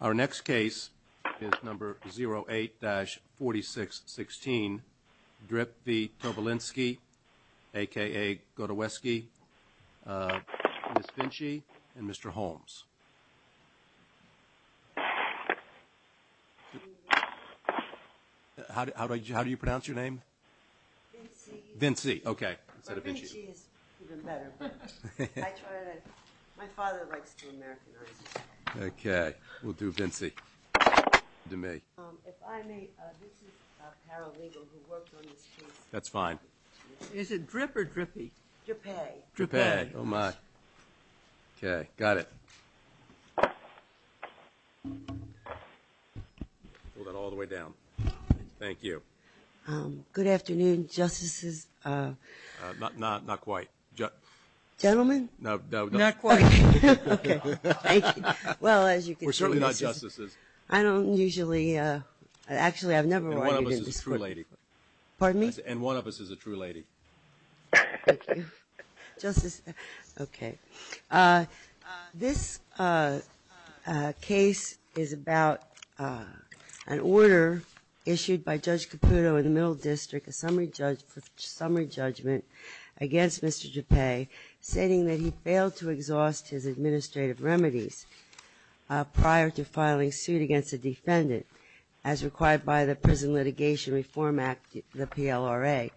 Our next case is number 08-4616, Drip V. Tobelinski, aka Godoweski, Ms. Vinci, and Mr. Holmes. How do you pronounce your name? Vinci. Vinci, okay. My father likes to Americanize his name. Okay, we'll do Vinci to me. If I may, this is a paralegal who worked on this case. That's fine. Is it Drip or Drippy? Drippay. Drippay, oh my. Okay, got it. Hold it all the way down. Thank you. Good afternoon, Justices. Not quite. Gentlemen? No, no. Not quite. Okay. Thank you. Well, as you can see. We're surely not Justices. I don't usually, actually I've never ordered in this court. And one of us is a true lady. Pardon me? And one of us is a true lady. Thank you. Justice, okay. This case is about an order issued by Judge Caputo in the Middle District, a summary judgment against Mr. Drippay, stating that he failed to exhaust his administrative remedies prior to filing suit against a defendant as required by the Prison Litigation Reform Act, the PLRA.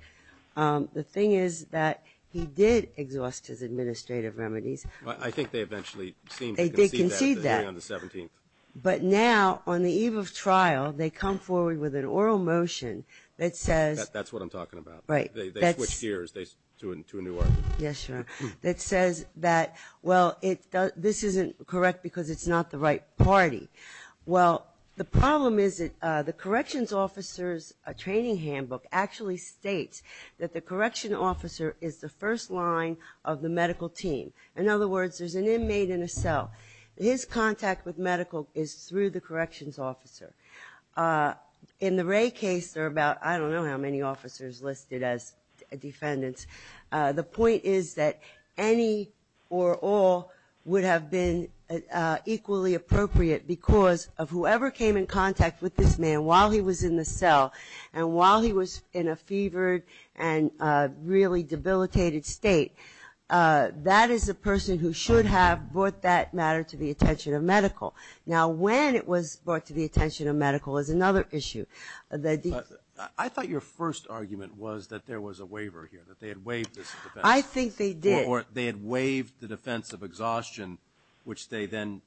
The thing is that he did exhaust his administrative remedies. I think they eventually seemed to concede that. They did concede that. But now, on the eve of trial, they come forward with an oral motion that says. That's what I'm talking about. Right. They switched gears to a new argument. Yes, Your Honor. That says that, well, this isn't correct because it's not the right party. Well, the problem is that the corrections officer's training handbook actually states that the correction officer is the first line of the medical team. In other words, there's an inmate in a cell. His contact with medical is through the corrections officer. In the Wray case, there are about, I don't know how many officers listed as defendants. The point is that any or all would have been equally appropriate because of whoever came in contact with this man while he was in the cell and while he was in a fevered and really debilitated state. That is a person who should have brought that matter to the attention of medical. Now, when it was brought to the attention of medical is another issue. I thought your first argument was that there was a waiver here, that they had waived this defense. I think they did. Or they had waived the defense of exhaustion, which they then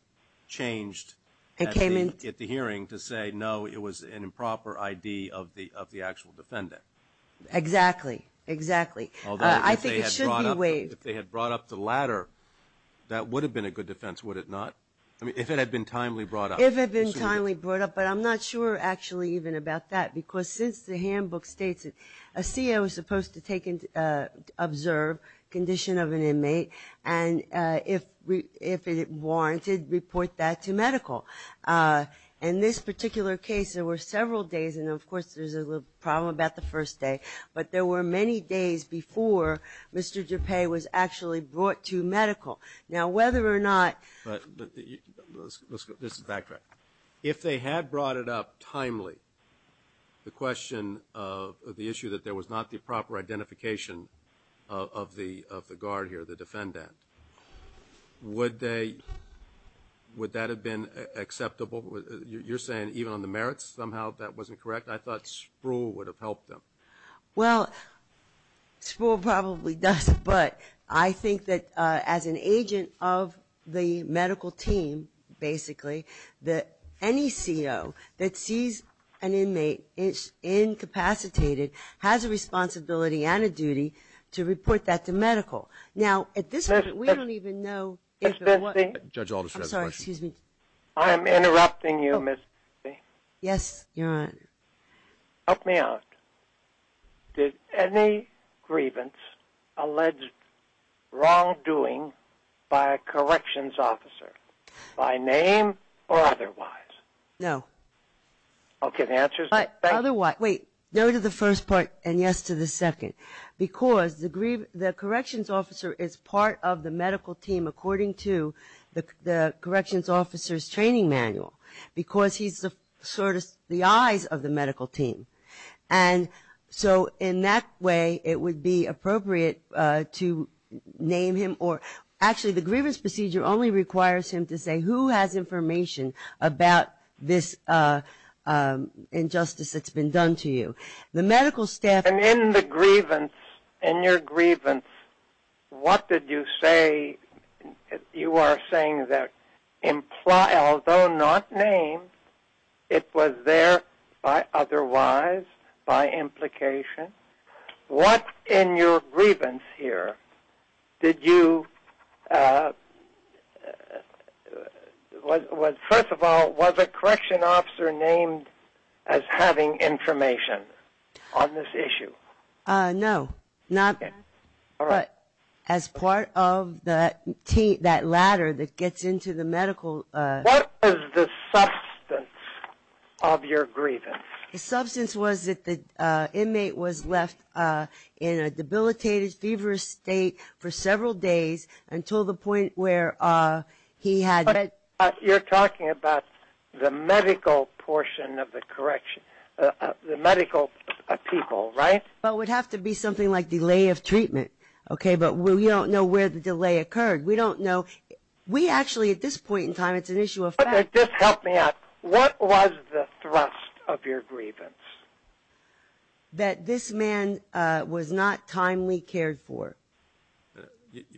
changed at the hearing to say, no, it was an improper ID of the actual defendant. Exactly. Exactly. Although if they had brought up the latter, that would have been a good defense, would it not? I mean, if it had been timely brought up. If it had been timely brought up. But I'm not sure actually even about that because since the handbook states it, a CO is supposed to take and observe condition of an inmate, and if it warranted, report that to medical. In this particular case, there were several days, and, of course, there's a little problem about the first day, but there were many days before Mr. DuPay was actually brought to medical. Now, whether or not the ---- If they had brought it up timely, the question of the issue that there was not the proper identification of the guard here, the defendant, would that have been acceptable? You're saying even on the merits somehow that wasn't correct? I thought Spruill would have helped them. Well, Spruill probably does, but I think that as an agent of the medical team, basically, that any CO that sees an inmate is incapacitated has a responsibility and a duty to report that to medical. Now, at this point, we don't even know if it was ---- Judge Alderson has a question. I'm sorry, excuse me. I am interrupting you, Ms. Spruill. Yes, Your Honor. Help me out. Did any grievance allege wrongdoing by a corrections officer, by name or otherwise? No. Okay, the answer is no. Wait, no to the first part and yes to the second, because the corrections officer is part of the medical team, according to the corrections officer's training manual, because he's sort of the eyes of the medical team. And so in that way, it would be appropriate to name him or ---- Actually, the grievance procedure only requires him to say who has information about this injustice that's been done to you. The medical staff ---- And in the grievance, in your grievance, what did you say? You are saying that although not named, it was there by otherwise, by implication. What in your grievance here did you ---- First of all, was a corrections officer named as having information on this issue? No, not as part of that ladder that gets into the medical ---- What is the substance of your grievance? The substance was that the inmate was left in a debilitated, feverish state for several days until the point where he had ---- You're talking about the medical portion of the correction, the medical people, right? Well, it would have to be something like delay of treatment, okay? But we don't know where the delay occurred. We don't know. We actually, at this point in time, it's an issue of ---- Okay, just help me out. What was the thrust of your grievance? That this man was not timely cared for.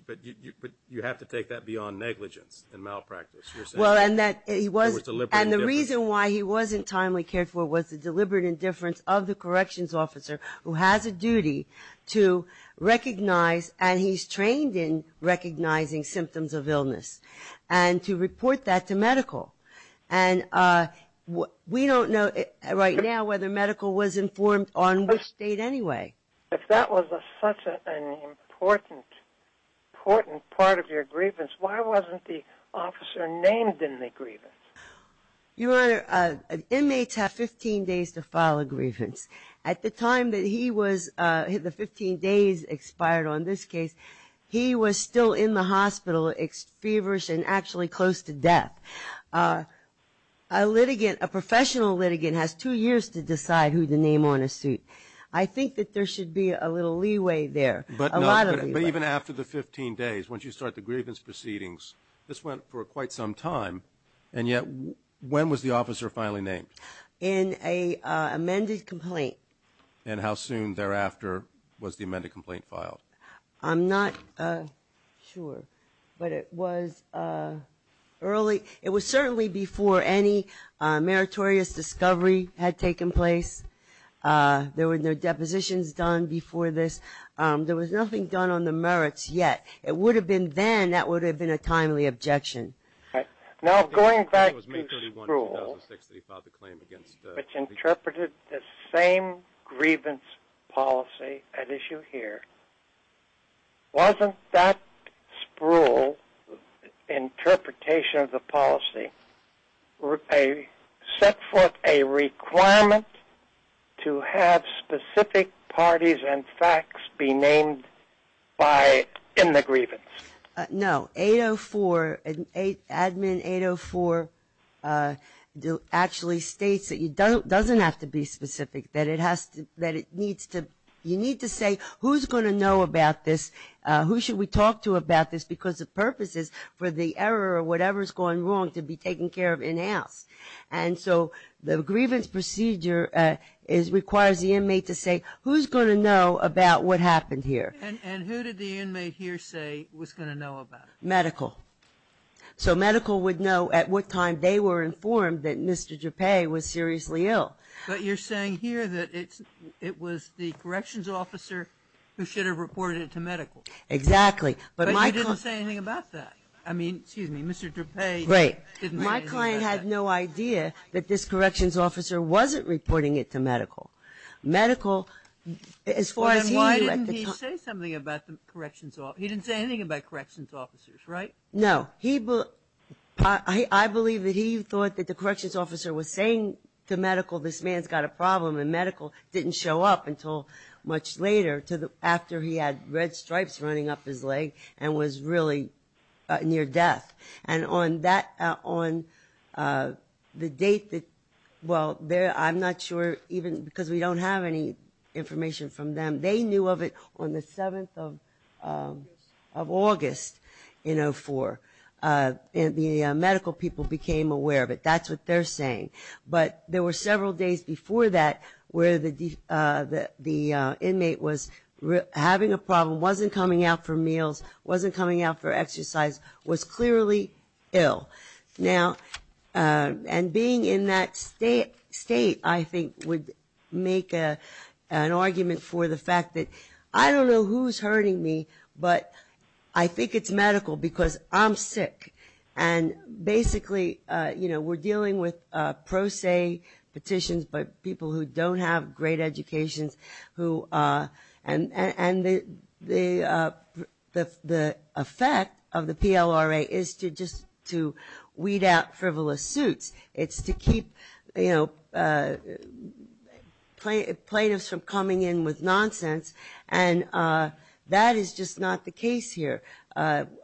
But you have to take that beyond negligence and malpractice. Well, and the reason why he wasn't timely cared for was the deliberate indifference of the corrections officer who has a duty to recognize and he's trained in recognizing symptoms of illness and to report that to medical. And we don't know right now whether medical was informed on which state anyway. If that was such an important part of your grievance, why wasn't the officer named in the grievance? Your Honor, inmates have 15 days to file a grievance. At the time that he was ---- the 15 days expired on this case, he was still in the hospital, feverish and actually close to death. A professional litigant has two years to decide who to name on a suit. I think that there should be a little leeway there, a lot of leeway. But even after the 15 days, once you start the grievance proceedings, this went for quite some time, and yet when was the officer finally named? In an amended complaint. And how soon thereafter was the amended complaint filed? I'm not sure, but it was early. Before any meritorious discovery had taken place. There were no depositions done before this. There was nothing done on the merits yet. It would have been then that would have been a timely objection. Now going back to Spruill, which interpreted the same grievance policy at issue here, wasn't that Spruill interpretation of the policy set forth a requirement to have specific parties and facts be named in the grievance? No. 804, Admin 804 actually states that it doesn't have to be specific, that you need to say who's going to know about this, who should we talk to about this, because the purpose is for the error or whatever's gone wrong to be taken care of in house. And so the grievance procedure requires the inmate to say who's going to know about what happened here. And who did the inmate here say was going to know about it? Medical. So medical would know at what time they were informed that Mr. Gepay was seriously ill. But you're saying here that it was the corrections officer who should have reported it to medical. Exactly. But you didn't say anything about that. I mean, excuse me, Mr. Gepay didn't say anything about that. Right. My client had no idea that this corrections officer wasn't reporting it to medical. Medical, as far as he knew at the time. Well, then why didn't he say something about the corrections officer? He didn't say anything about corrections officers, right? No. I believe that he thought that the corrections officer was saying to medical, this man's got a problem, and medical didn't show up until much later, after he had red stripes running up his leg and was really near death. And on the date that, well, I'm not sure, even because we don't have any information from them, they knew of it on the 7th of August in 2004. The medical people became aware of it. That's what they're saying. But there were several days before that where the inmate was having a problem, wasn't coming out for meals, wasn't coming out for exercise, was clearly ill. And being in that state, I think, would make an argument for the fact that, I don't know who's hurting me, but I think it's medical because I'm sick. And basically, you know, we're dealing with pro se petitions, but people who don't have great educations, and the effect of the PLRA is just to weed out frivolous suits. It's to keep, you know, plaintiffs from coming in with nonsense, and that is just not the case here.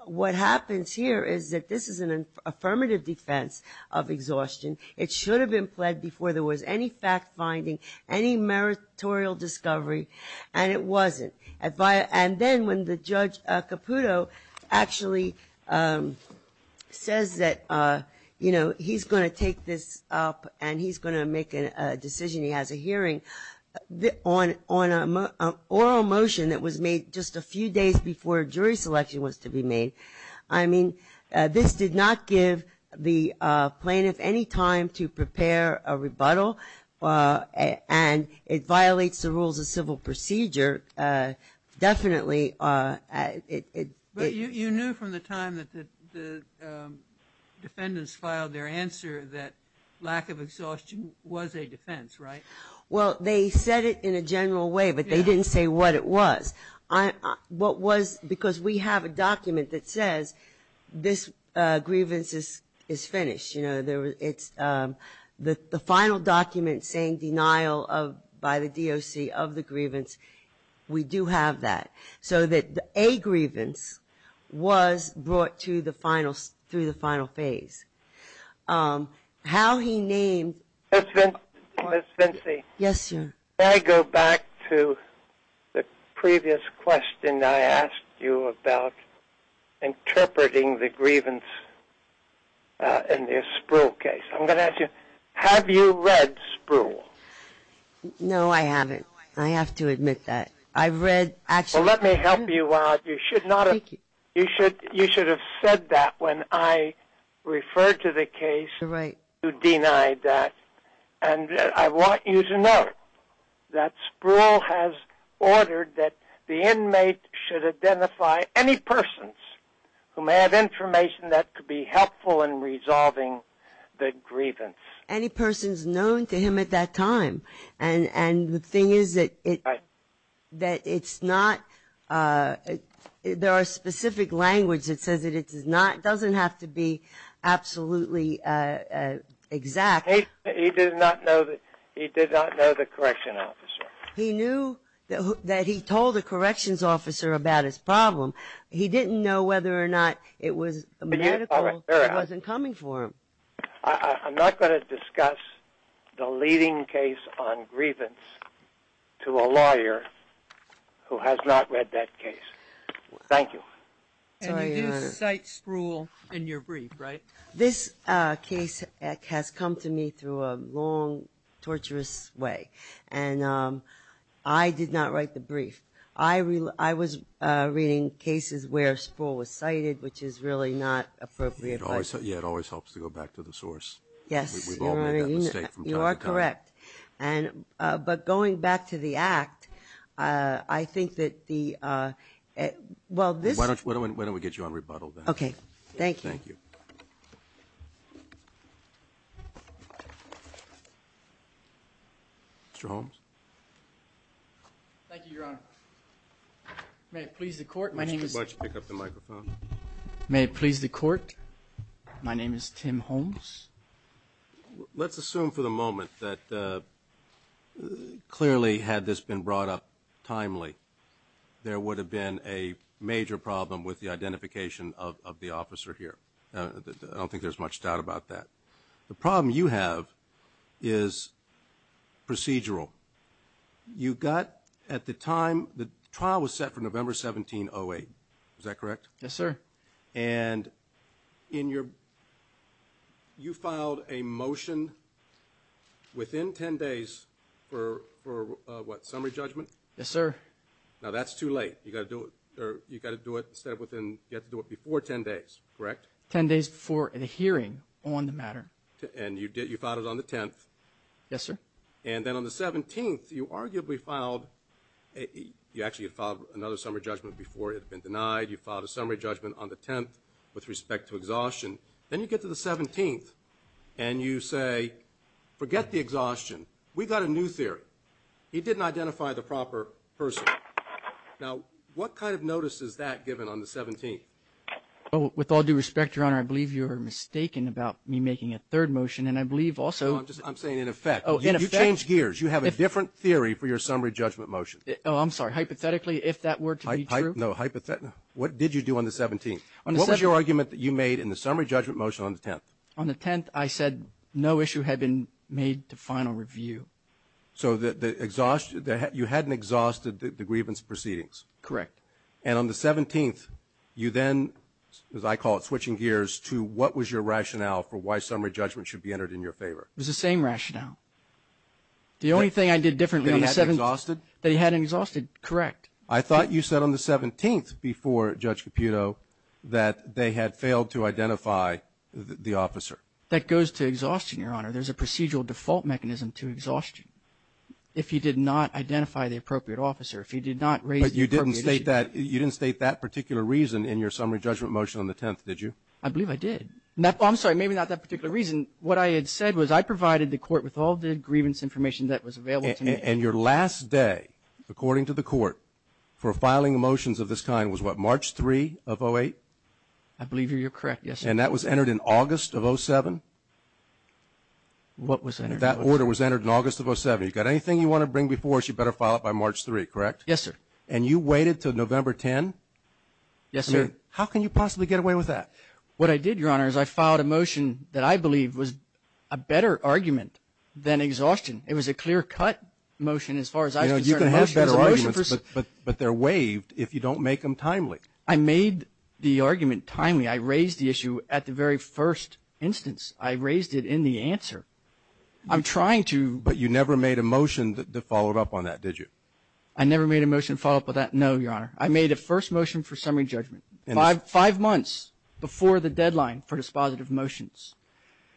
What happens here is that this is an affirmative defense of exhaustion. It should have been pled before there was any fact-finding, any meritorial discovery, and it wasn't. And then when the Judge Caputo actually says that, you know, he's going to take this up and he's going to make a decision, he has a hearing, on an oral motion that was made just a few days before jury selection was to be made, I mean, this did not give the plaintiff any time to prepare a rebuttal, and it violates the rules of civil procedure, definitely. But you knew from the time that the defendants filed their answer that lack of exhaustion was a defense, right? Well, they said it in a general way, but they didn't say what it was. Because we have a document that says this grievance is finished. The final document saying denial by the DOC of the grievance, we do have that. So that a grievance was brought through the final phase. How he named... Ms. Vinci. Yes, sir. May I go back to the previous question I asked you about interpreting the grievance in the Spruill case? I'm going to ask you, have you read Spruill? No, I haven't. I have to admit that. I've read... Well, let me help you out. Thank you. You should have said that when I referred to the case. Right. You denied that. And I want you to know that Spruill has ordered that the inmate should identify any persons who may have information that could be helpful in resolving the grievance. Any persons known to him at that time. And the thing is that it's not... There are specific languages that says that it doesn't have to be absolutely exact. He did not know the correction officer. He knew that he told the corrections officer about his problem. He didn't know whether or not it was medical. It wasn't coming for him. I'm not going to discuss the leading case on grievance to a lawyer who has not read that case. Thank you. And you do cite Spruill in your brief, right? This case has come to me through a long, torturous way. And I did not write the brief. I was reading cases where Spruill was cited, which is really not appropriate. Yeah, it always helps to go back to the source. Yes. We've all made that mistake from time to time. You are correct. But going back to the act, I think that the... Why don't we get you on rebuttal then? Okay. Thank you. Thank you. Mr. Holmes? Thank you, Your Honor. May it please the court, my name is... Why don't you pick up the microphone? May it please the court, my name is Tim Holmes. Let's assume for the moment that clearly had this been brought up timely, there would have been a major problem with the identification of the officer here. I don't think there's much doubt about that. The problem you have is procedural. You got, at the time, the trial was set for November 17, 08. Is that correct? Yes, sir. And you filed a motion within 10 days for what, summary judgment? Yes, sir. Now, that's too late. You got to do it before 10 days, correct? 10 days before the hearing on the matter. And you filed it on the 10th? Yes, sir. And then on the 17th, you arguably filed, you actually filed another summary judgment before it had been denied. You filed a summary judgment on the 10th with respect to exhaustion. Then you get to the 17th and you say, forget the exhaustion. We got a new theory. He didn't identify the proper person. Now, what kind of notice is that given on the 17th? With all due respect, Your Honor, I believe you are mistaken about me making a third motion, and I believe also. No, I'm saying in effect. Oh, in effect. You changed gears. You have a different theory for your summary judgment motion. Oh, I'm sorry. Hypothetically, if that were to be true. No, hypothetically. What did you do on the 17th? What was your argument that you made in the summary judgment motion on the 10th? On the 10th, I said no issue had been made to final review. So you hadn't exhausted the grievance proceedings. Correct. And on the 17th, you then, as I call it, switching gears to what was your rationale for why summary judgment should be entered in your favor? It was the same rationale. The only thing I did differently on the 17th. That he hadn't exhausted? That he hadn't exhausted, correct. I thought you said on the 17th before, Judge Caputo, that they had failed to identify the officer. That goes to exhaustion, Your Honor. There's a procedural default mechanism to exhaustion. If he did not identify the appropriate officer, if he did not raise the appropriate issue. But you didn't state that particular reason in your summary judgment motion on the 10th, did you? I believe I did. I'm sorry, maybe not that particular reason. What I had said was I provided the court with all the grievance information that was available to me. And your last day, according to the court, for filing motions of this kind was what, March 3 of 08? I believe you're correct, yes, sir. And that was entered in August of 07? What was entered? That order was entered in August of 07. You've got anything you want to bring before us, you better file it by March 3, correct? Yes, sir. And you waited until November 10? Yes, sir. How can you possibly get away with that? What I did, Your Honor, is I filed a motion that I believe was a better argument than exhaustion. It was a clear-cut motion as far as I was concerned. You can have better arguments, but they're waived if you don't make them timely. I made the argument timely. I raised the issue at the very first instance. I raised it in the answer. I'm trying to. But you never made a motion to follow up on that, did you? I never made a motion to follow up on that, no, Your Honor. I made a first motion for summary judgment five months before the deadline for dispositive motions.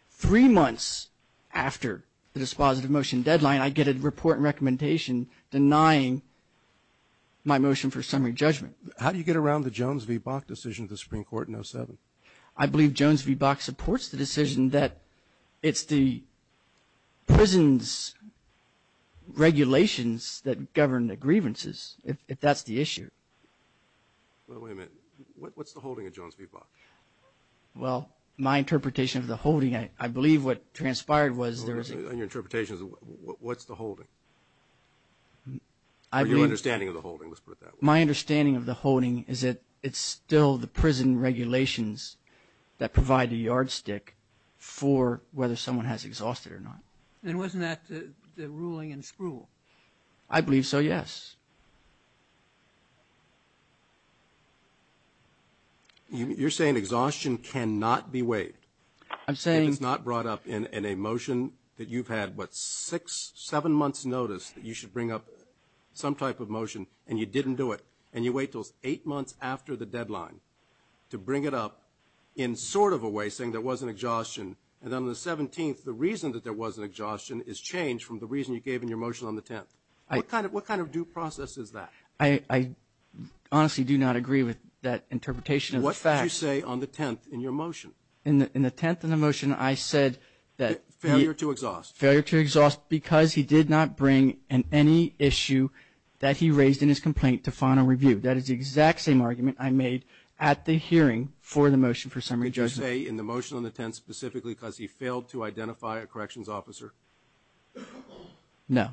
Three months after the dispositive motion deadline, I get a report and recommendation denying my motion for summary judgment. How do you get around the Jones v. Bok decision at the Supreme Court in 07? I believe Jones v. Bok supports the decision that it's the prison's regulations that govern the grievances, if that's the issue. Wait a minute. What's the holding of Jones v. Bok? Well, my interpretation of the holding, I believe what transpired was there was a – Your interpretation is what's the holding? My understanding of the holding is that it's still the prison regulations that provide the yardstick for whether someone has exhausted or not. Then wasn't that the ruling in spruill? I believe so, yes. You're saying exhaustion cannot be waived. I'm saying – that you've had, what, six, seven months notice that you should bring up some type of motion and you didn't do it. And you wait until eight months after the deadline to bring it up in sort of a way saying there was an exhaustion. And then on the 17th, the reason that there was an exhaustion is changed from the reason you gave in your motion on the 10th. What kind of due process is that? I honestly do not agree with that interpretation of the facts. In the 10th in the motion, I said that – Failure to exhaust. Failure to exhaust because he did not bring in any issue that he raised in his complaint to final review. That is the exact same argument I made at the hearing for the motion for summary judgment. Did you say in the motion on the 10th specifically because he failed to identify a corrections officer? No.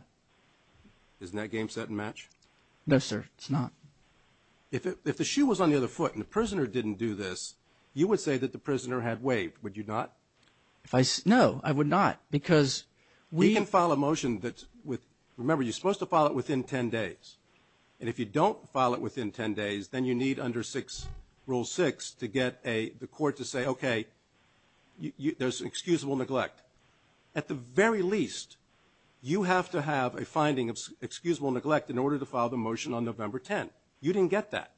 Isn't that game set and match? No, sir, it's not. If the shoe was on the other foot and the prisoner didn't do this, you would say that the prisoner had waived. Would you not? No, I would not because we – You can file a motion that's – remember, you're supposed to file it within 10 days. And if you don't file it within 10 days, then you need under Rule 6 to get the court to say, okay, there's excusable neglect. At the very least, you have to have a finding of excusable neglect in order to file the motion on November 10. You didn't get that.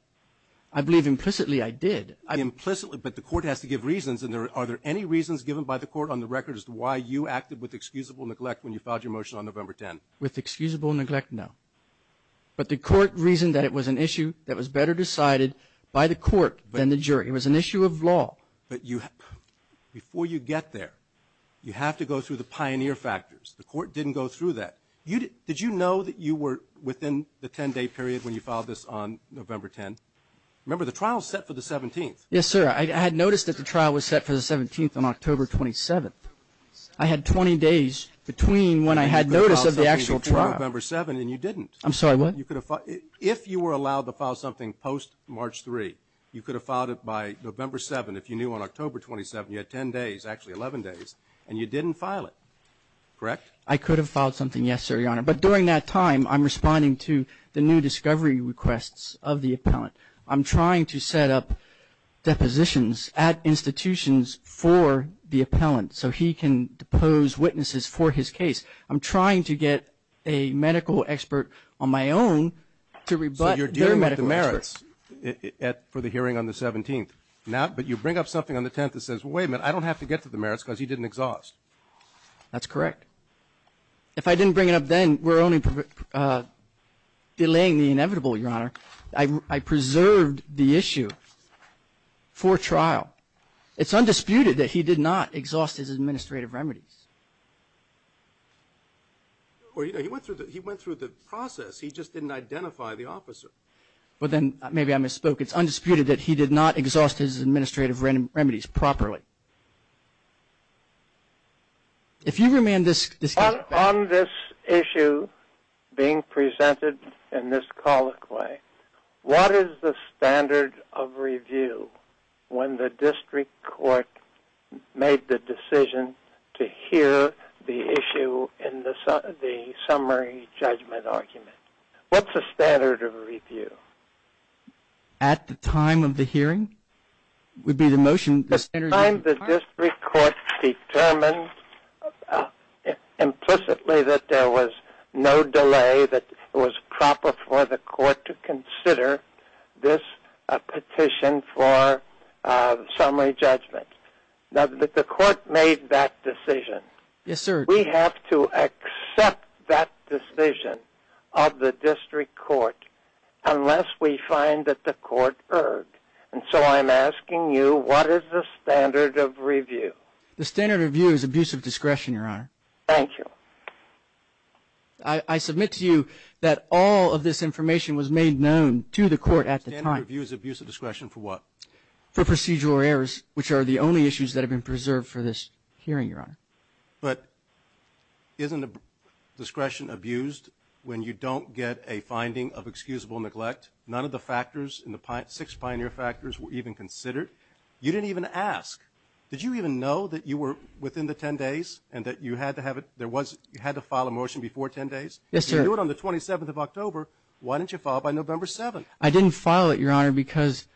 I believe implicitly I did. Implicitly, but the court has to give reasons. And are there any reasons given by the court on the record as to why you acted with excusable neglect when you filed your motion on November 10? With excusable neglect, no. But the court reasoned that it was an issue that was better decided by the court than the jury. It was an issue of law. But you – before you get there, you have to go through the pioneer factors. The court didn't go through that. Did you know that you were within the 10-day period when you filed this on November 10? Remember, the trial is set for the 17th. Yes, sir. I had noticed that the trial was set for the 17th on October 27th. I had 20 days between when I had notice of the actual trial. You could have filed something before November 7 and you didn't. I'm sorry, what? You could have – if you were allowed to file something post-March 3, you could have filed it by November 7. If you knew on October 27, you had 10 days, actually 11 days, and you didn't file it, correct? I could have filed something, yes, sir, Your Honor. But during that time, I'm responding to the new discovery requests of the appellant. I'm trying to set up depositions at institutions for the appellant so he can depose witnesses for his case. I'm trying to get a medical expert on my own to rebut their medical expert. So you're dealing with the merits for the hearing on the 17th. But you bring up something on the 10th that says, wait a minute, I don't have to get to the merits because he didn't exhaust. That's correct. If I didn't bring it up then, we're only delaying the inevitable, Your Honor. I preserved the issue for trial. It's undisputed that he did not exhaust his administrative remedies. Well, you know, he went through the process. He just didn't identify the officer. Well, then maybe I misspoke. It's undisputed that he did not exhaust his administrative remedies properly. If you remain this case. On this issue being presented in this colloquy, what is the standard of review when the district court made the decision to hear the issue in the summary judgment argument? What's the standard of review? At the time of the hearing would be the motion. The time the district court determined implicitly that there was no delay, that it was proper for the court to consider this petition for summary judgment. Now, the court made that decision. Yes, sir. We have to accept that decision of the district court unless we find that the court erred. And so I'm asking you, what is the standard of review? The standard of review is abuse of discretion, Your Honor. Thank you. I submit to you that all of this information was made known to the court at the time. The standard of review is abuse of discretion for what? For procedural errors, which are the only issues that have been preserved for this hearing, Your Honor. But isn't discretion abused when you don't get a finding of excusable neglect? None of the factors in the six pioneer factors were even considered. You didn't even ask. Did you even know that you were within the 10 days and that you had to file a motion before 10 days? Yes, sir. You knew it on the 27th of October. Why didn't you file it by November 7th? I didn't file it, Your Honor, because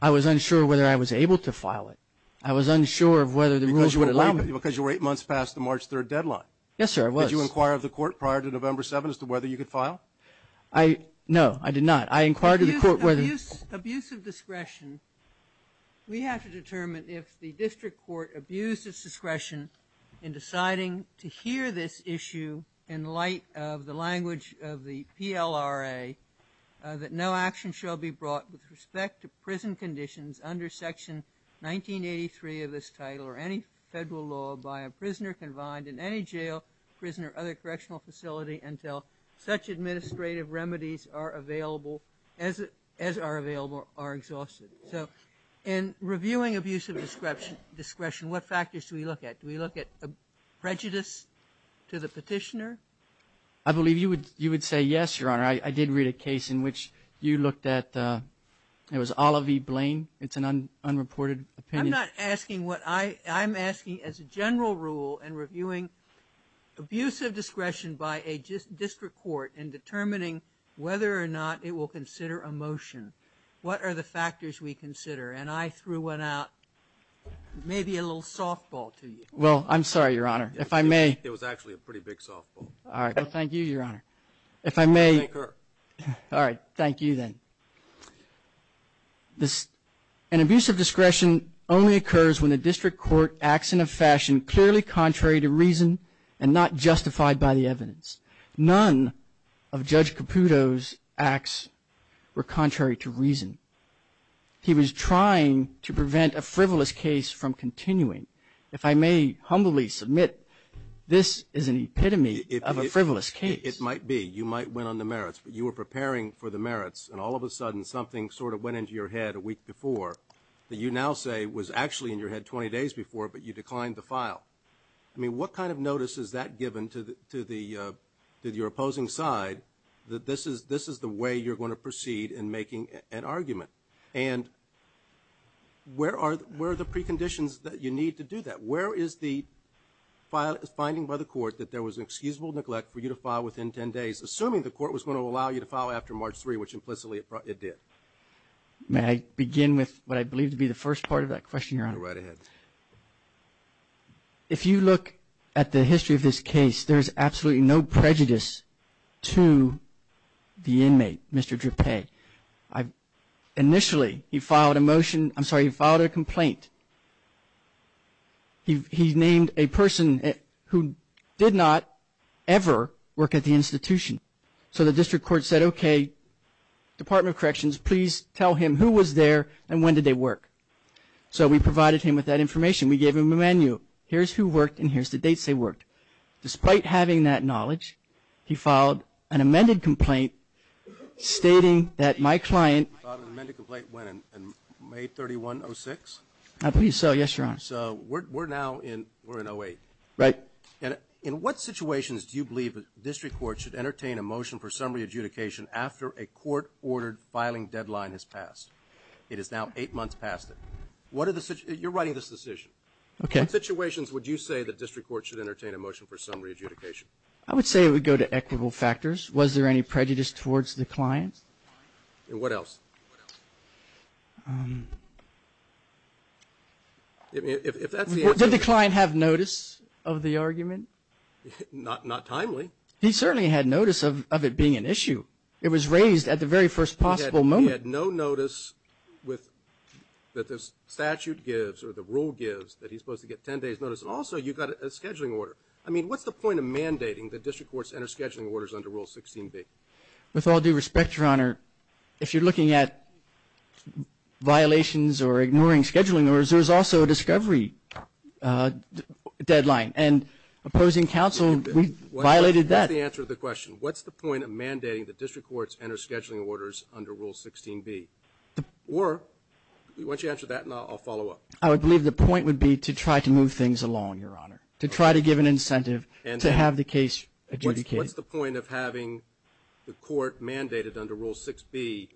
I was unsure whether I was able to file it. I was unsure of whether the rules would allow me to. Because you were eight months past the March 3rd deadline. Yes, sir, I was. Did you inquire of the court prior to November 7th as to whether you could file? No, I did not. I inquired of the court whether. Abuse of discretion, we have to determine if the district court abused its discretion in deciding to hear this issue in light of the language of the PLRA that no action shall be brought with respect to prison conditions under Section 1983 of this title or any federal law by a prisoner confined in any jail, prison, or other correctional facility until such administrative remedies as are available are exhausted. So in reviewing abuse of discretion, what factors do we look at? Do we look at prejudice to the petitioner? I believe you would say yes, Your Honor. I did read a case in which you looked at it was Olive Blaine. It's an unreported opinion. I'm not asking what I'm asking. As a general rule in reviewing abuse of discretion by a district court in determining whether or not it will consider a motion, what are the factors we consider? And I threw one out, maybe a little softball to you. Well, I'm sorry, Your Honor. If I may. It was actually a pretty big softball. All right. Well, thank you, Your Honor. If I may. Thank her. All right. Thank you then. An abuse of discretion only occurs when the district court acts in a fashion clearly contrary to reason and not justified by the evidence. None of Judge Caputo's acts were contrary to reason. He was trying to prevent a frivolous case from continuing. If I may humbly submit, this is an epitome of a frivolous case. It might be. You might win on the merits, but you were preparing for the merits and all of a sudden something sort of went into your head a week before that you now say was actually in your head 20 days before, but you declined the file. I mean, what kind of notice is that given to your opposing side that this is the way you're going to proceed in making an argument? And where are the preconditions that you need to do that? Where is the finding by the court that there was excusable neglect for you to file within 10 days, assuming the court was going to allow you to file after March 3, which implicitly it did? May I begin with what I believe to be the first part of that question, Your Honor? Go right ahead. If you look at the history of this case, there is absolutely no prejudice to the inmate, Mr. Drippe. Initially, he filed a complaint. He named a person who did not ever work at the institution. So the district court said, okay, Department of Corrections, please tell him who was there and when did they work. So we provided him with that information. We gave him a menu. Here's who worked and here's the dates they worked. Despite having that knowledge, he filed an amended complaint stating that my client Filed an amended complaint when, in May 31, 06? I believe so, yes, Your Honor. So we're now in 08. Right. In what situations do you believe a district court should entertain a motion for summary adjudication after a court-ordered filing deadline has passed? It is now eight months past it. You're writing this decision. Okay. In what situations would you say the district court should entertain a motion for summary adjudication? I would say it would go to equitable factors. Was there any prejudice towards the client? And what else? If that's the answer. Did the client have notice of the argument? Not timely. He certainly had notice of it being an issue. It was raised at the very first possible moment. He had no notice that the statute gives or the rule gives that he's supposed to get 10 days notice. Also, you've got a scheduling order. I mean, what's the point of mandating that district courts enter scheduling orders under Rule 16b? With all due respect, Your Honor, if you're looking at violations or ignoring scheduling orders, there's also a discovery deadline. And opposing counsel violated that. What's the answer to the question? What's the point of mandating that district courts enter scheduling orders under Rule 16b? Or why don't you answer that and I'll follow up. I would believe the point would be to try to move things along, Your Honor, to try to give an incentive to have the case adjudicated. What's the point of having the court mandated under Rule 6b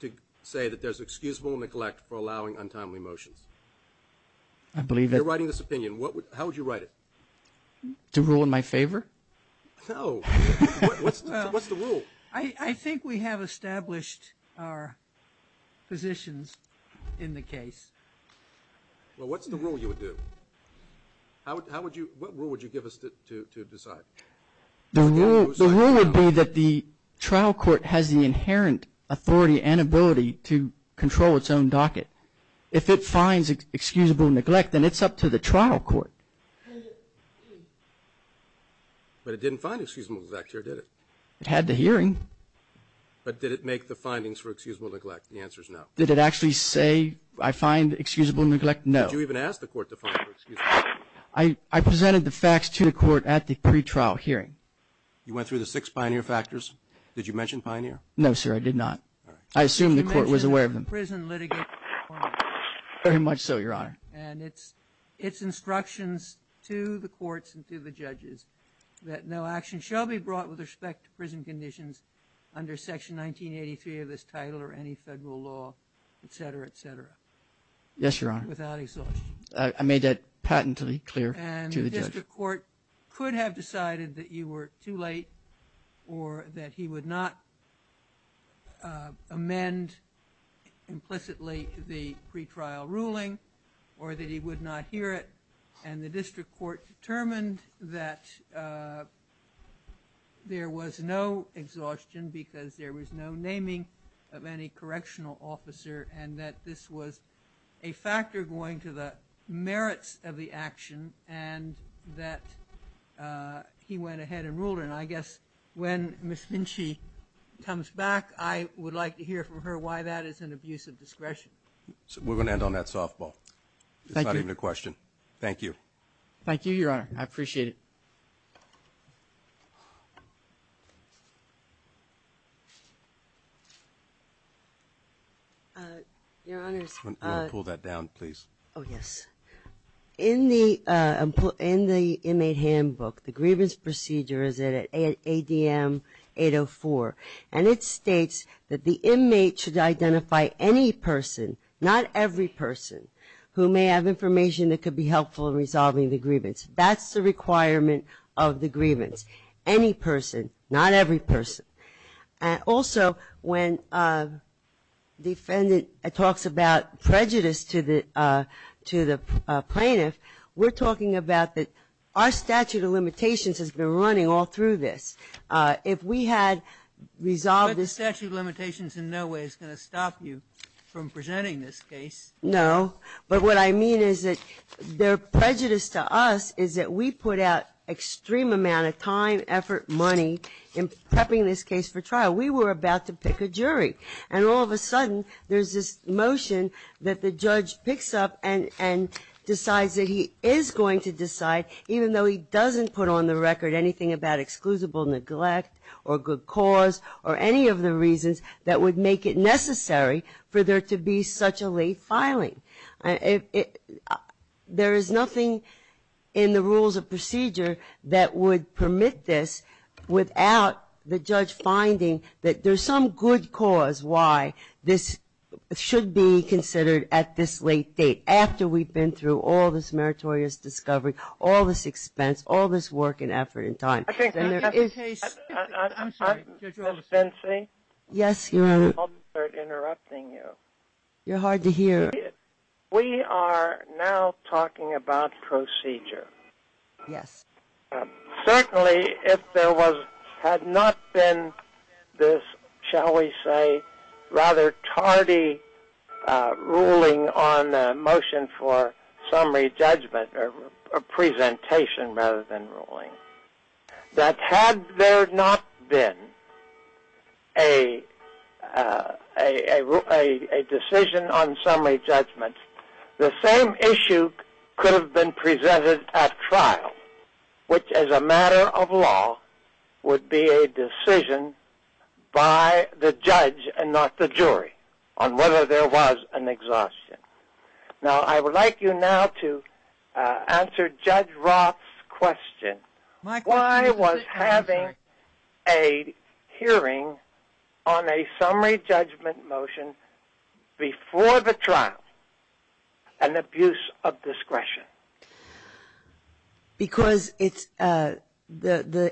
to say that there's excusable neglect for allowing untimely motions? You're writing this opinion. How would you write it? To rule in my favor? No. What's the rule? I think we have established our positions in the case. Well, what's the rule you would do? What rule would you give us to decide? The rule would be that the trial court has the inherent authority and ability to control its own docket. If it finds excusable neglect, then it's up to the trial court. But it didn't find excusable neglect here, did it? It had the hearing. But did it make the findings for excusable neglect? The answer is no. Did it actually say, I find excusable neglect? No. Did you even ask the court to find excusable neglect? I presented the facts to the court at the pretrial hearing. You went through the six pioneer factors? Did you mention pioneer? No, sir, I did not. I assumed the court was aware of them. Very much so, Your Honor. And its instructions to the courts and to the judges that no action shall be brought with respect to prison conditions under Section 1983 of this title or any federal law, et cetera, et cetera. Yes, Your Honor. Without exhaustion. I made that patently clear to the judge. And the district court could have decided that you were too late or that he would not amend implicitly the pretrial ruling or that he would not hear it. And the district court determined that there was no exhaustion because there was no naming of any correctional officer and that this was a factor going to the merits of the action and that he went ahead and ruled it. And I guess when Ms. Finchie comes back, I would like to hear from her why that is an abuse of discretion. We're going to end on that softball. Thank you. It's not even a question. Thank you. Thank you, Your Honor. I appreciate it. Your Honors. Pull that down, please. Oh, yes. In the inmate handbook, the grievance procedure is at ADM 804, and it states that the inmate should identify any person, not every person, who may have information that could be helpful in resolving the grievance. That's the requirement of the grievance. Any person, not every person. Also, when the defendant talks about prejudice to the plaintiff, we're talking about that our statute of limitations has been running all through this. If we had resolved this ---- But the statute of limitations in no way is going to stop you from presenting this case. No. But what I mean is that their prejudice to us is that we put out extreme amount of time, effort, money in prepping this case for trial. We were about to pick a jury, and all of a sudden there's this motion that the judge picks up and decides that he is going to decide, even though he doesn't put on the record anything about exclusible neglect or good cause or any of the reasons that would make it necessary for there to be such a late filing. There is nothing in the rules of procedure that would permit this without the judge finding that there's some good cause why this should be considered at this late date, after we've been through all this meritorious discovery, all this expense, all this work and effort and time. I'm sorry. Judge Oleson. Yes. I'm sorry for interrupting you. You're hard to hear. We are now talking about procedure. Yes. Certainly if there had not been this, shall we say, rather tardy ruling on a motion for summary judgment or presentation rather than ruling, that had there not been a decision on summary judgment, the same issue could have been presented at trial, which as a matter of law would be a decision by the judge and not the jury on whether there was an exhaustion. Now I would like you now to answer Judge Roth's question. Why was having a hearing on a summary judgment motion before the trial an abuse of discretion? Because the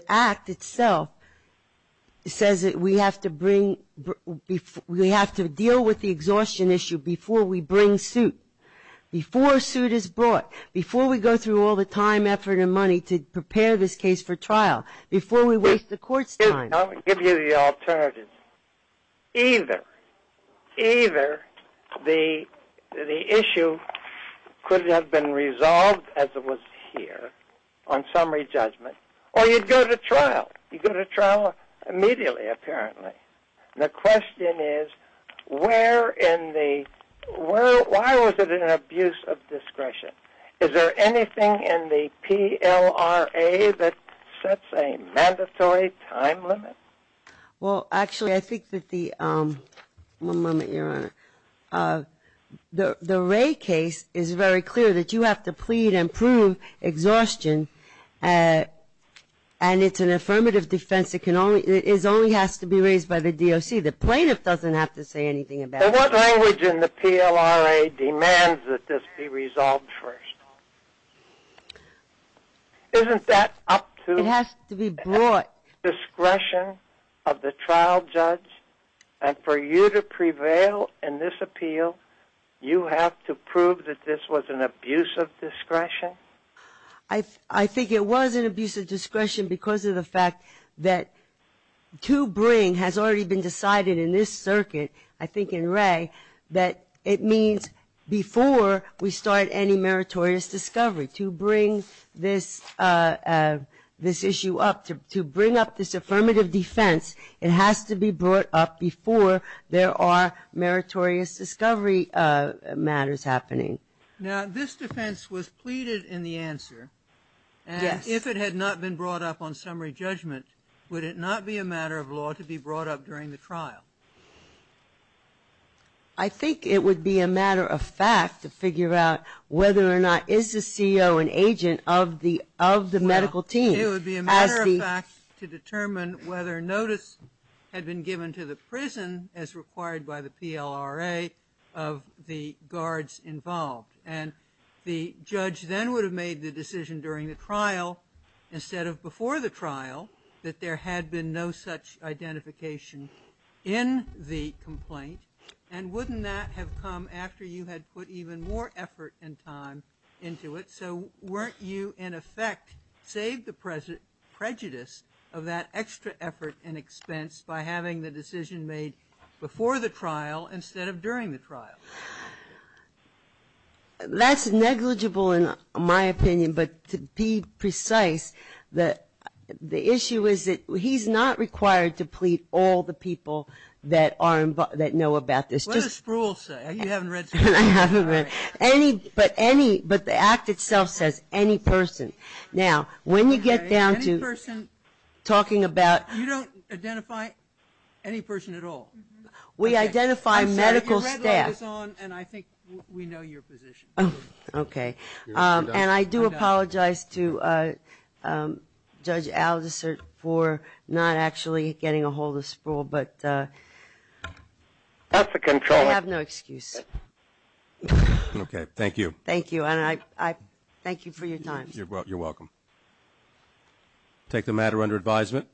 Act itself says that we have to deal with the exhaustion issue before we bring suit, before a suit is brought, before we go through all the time, effort and money to prepare this case for trial, before we waste the court's time. I'll give you the alternative. Either the issue could have been resolved as it was here on summary judgment, or you'd go to trial. You'd go to trial immediately, apparently. The question is, why was it an abuse of discretion? Is there anything in the PLRA that sets a mandatory time limit? Well, actually, I think that the... One moment, Your Honor. The Wray case is very clear that you have to plead and prove exhaustion, and it's an affirmative defense. It only has to be raised by the DOC. The plaintiff doesn't have to say anything about it. What language in the PLRA demands that this be resolved first? Isn't that up to... It has to be brought. ...discretion of the trial judge? And for you to prevail in this appeal, you have to prove that this was an abuse of discretion? I think it was an abuse of discretion because of the fact that to bring has already been decided in this circuit, I think in Wray, that it means before we start any meritorious discovery, to bring this issue up, to bring up this affirmative defense, it has to be brought up before there are meritorious discovery matters happening. Now, this defense was pleaded in the answer. Yes. And if it had not been brought up on summary judgment, would it not be a matter of law to be brought up during the trial? I think it would be a matter of fact to figure out whether or not, is the CO an agent of the medical team? Well, it would be a matter of fact to determine whether notice had been given to the prison, as required by the PLRA, of the guards involved. And the judge then would have made the decision during the trial, instead of before the trial, that there had been no such identification in the complaint. And wouldn't that have come after you had put even more effort and time into it? So weren't you, in effect, saved the prejudice of that extra effort and expense by having the decision made before the trial, instead of during the trial? That's negligible, in my opinion. But to be precise, the issue is that he's not required to plead all the people that know about this. What does Spruill say? You haven't read Spruill. I haven't read it. But the act itself says, any person. Now, when you get down to talking about – You don't identify any person at all? We identify medical staff. I'm sorry, your red light is on, and I think we know your position. Okay. And I do apologize to Judge Aldisert for not actually getting a hold of Spruill. That's a control. I have no excuse. Okay, thank you. Thank you. And I thank you for your time. You're welcome. Take the matter under advisement.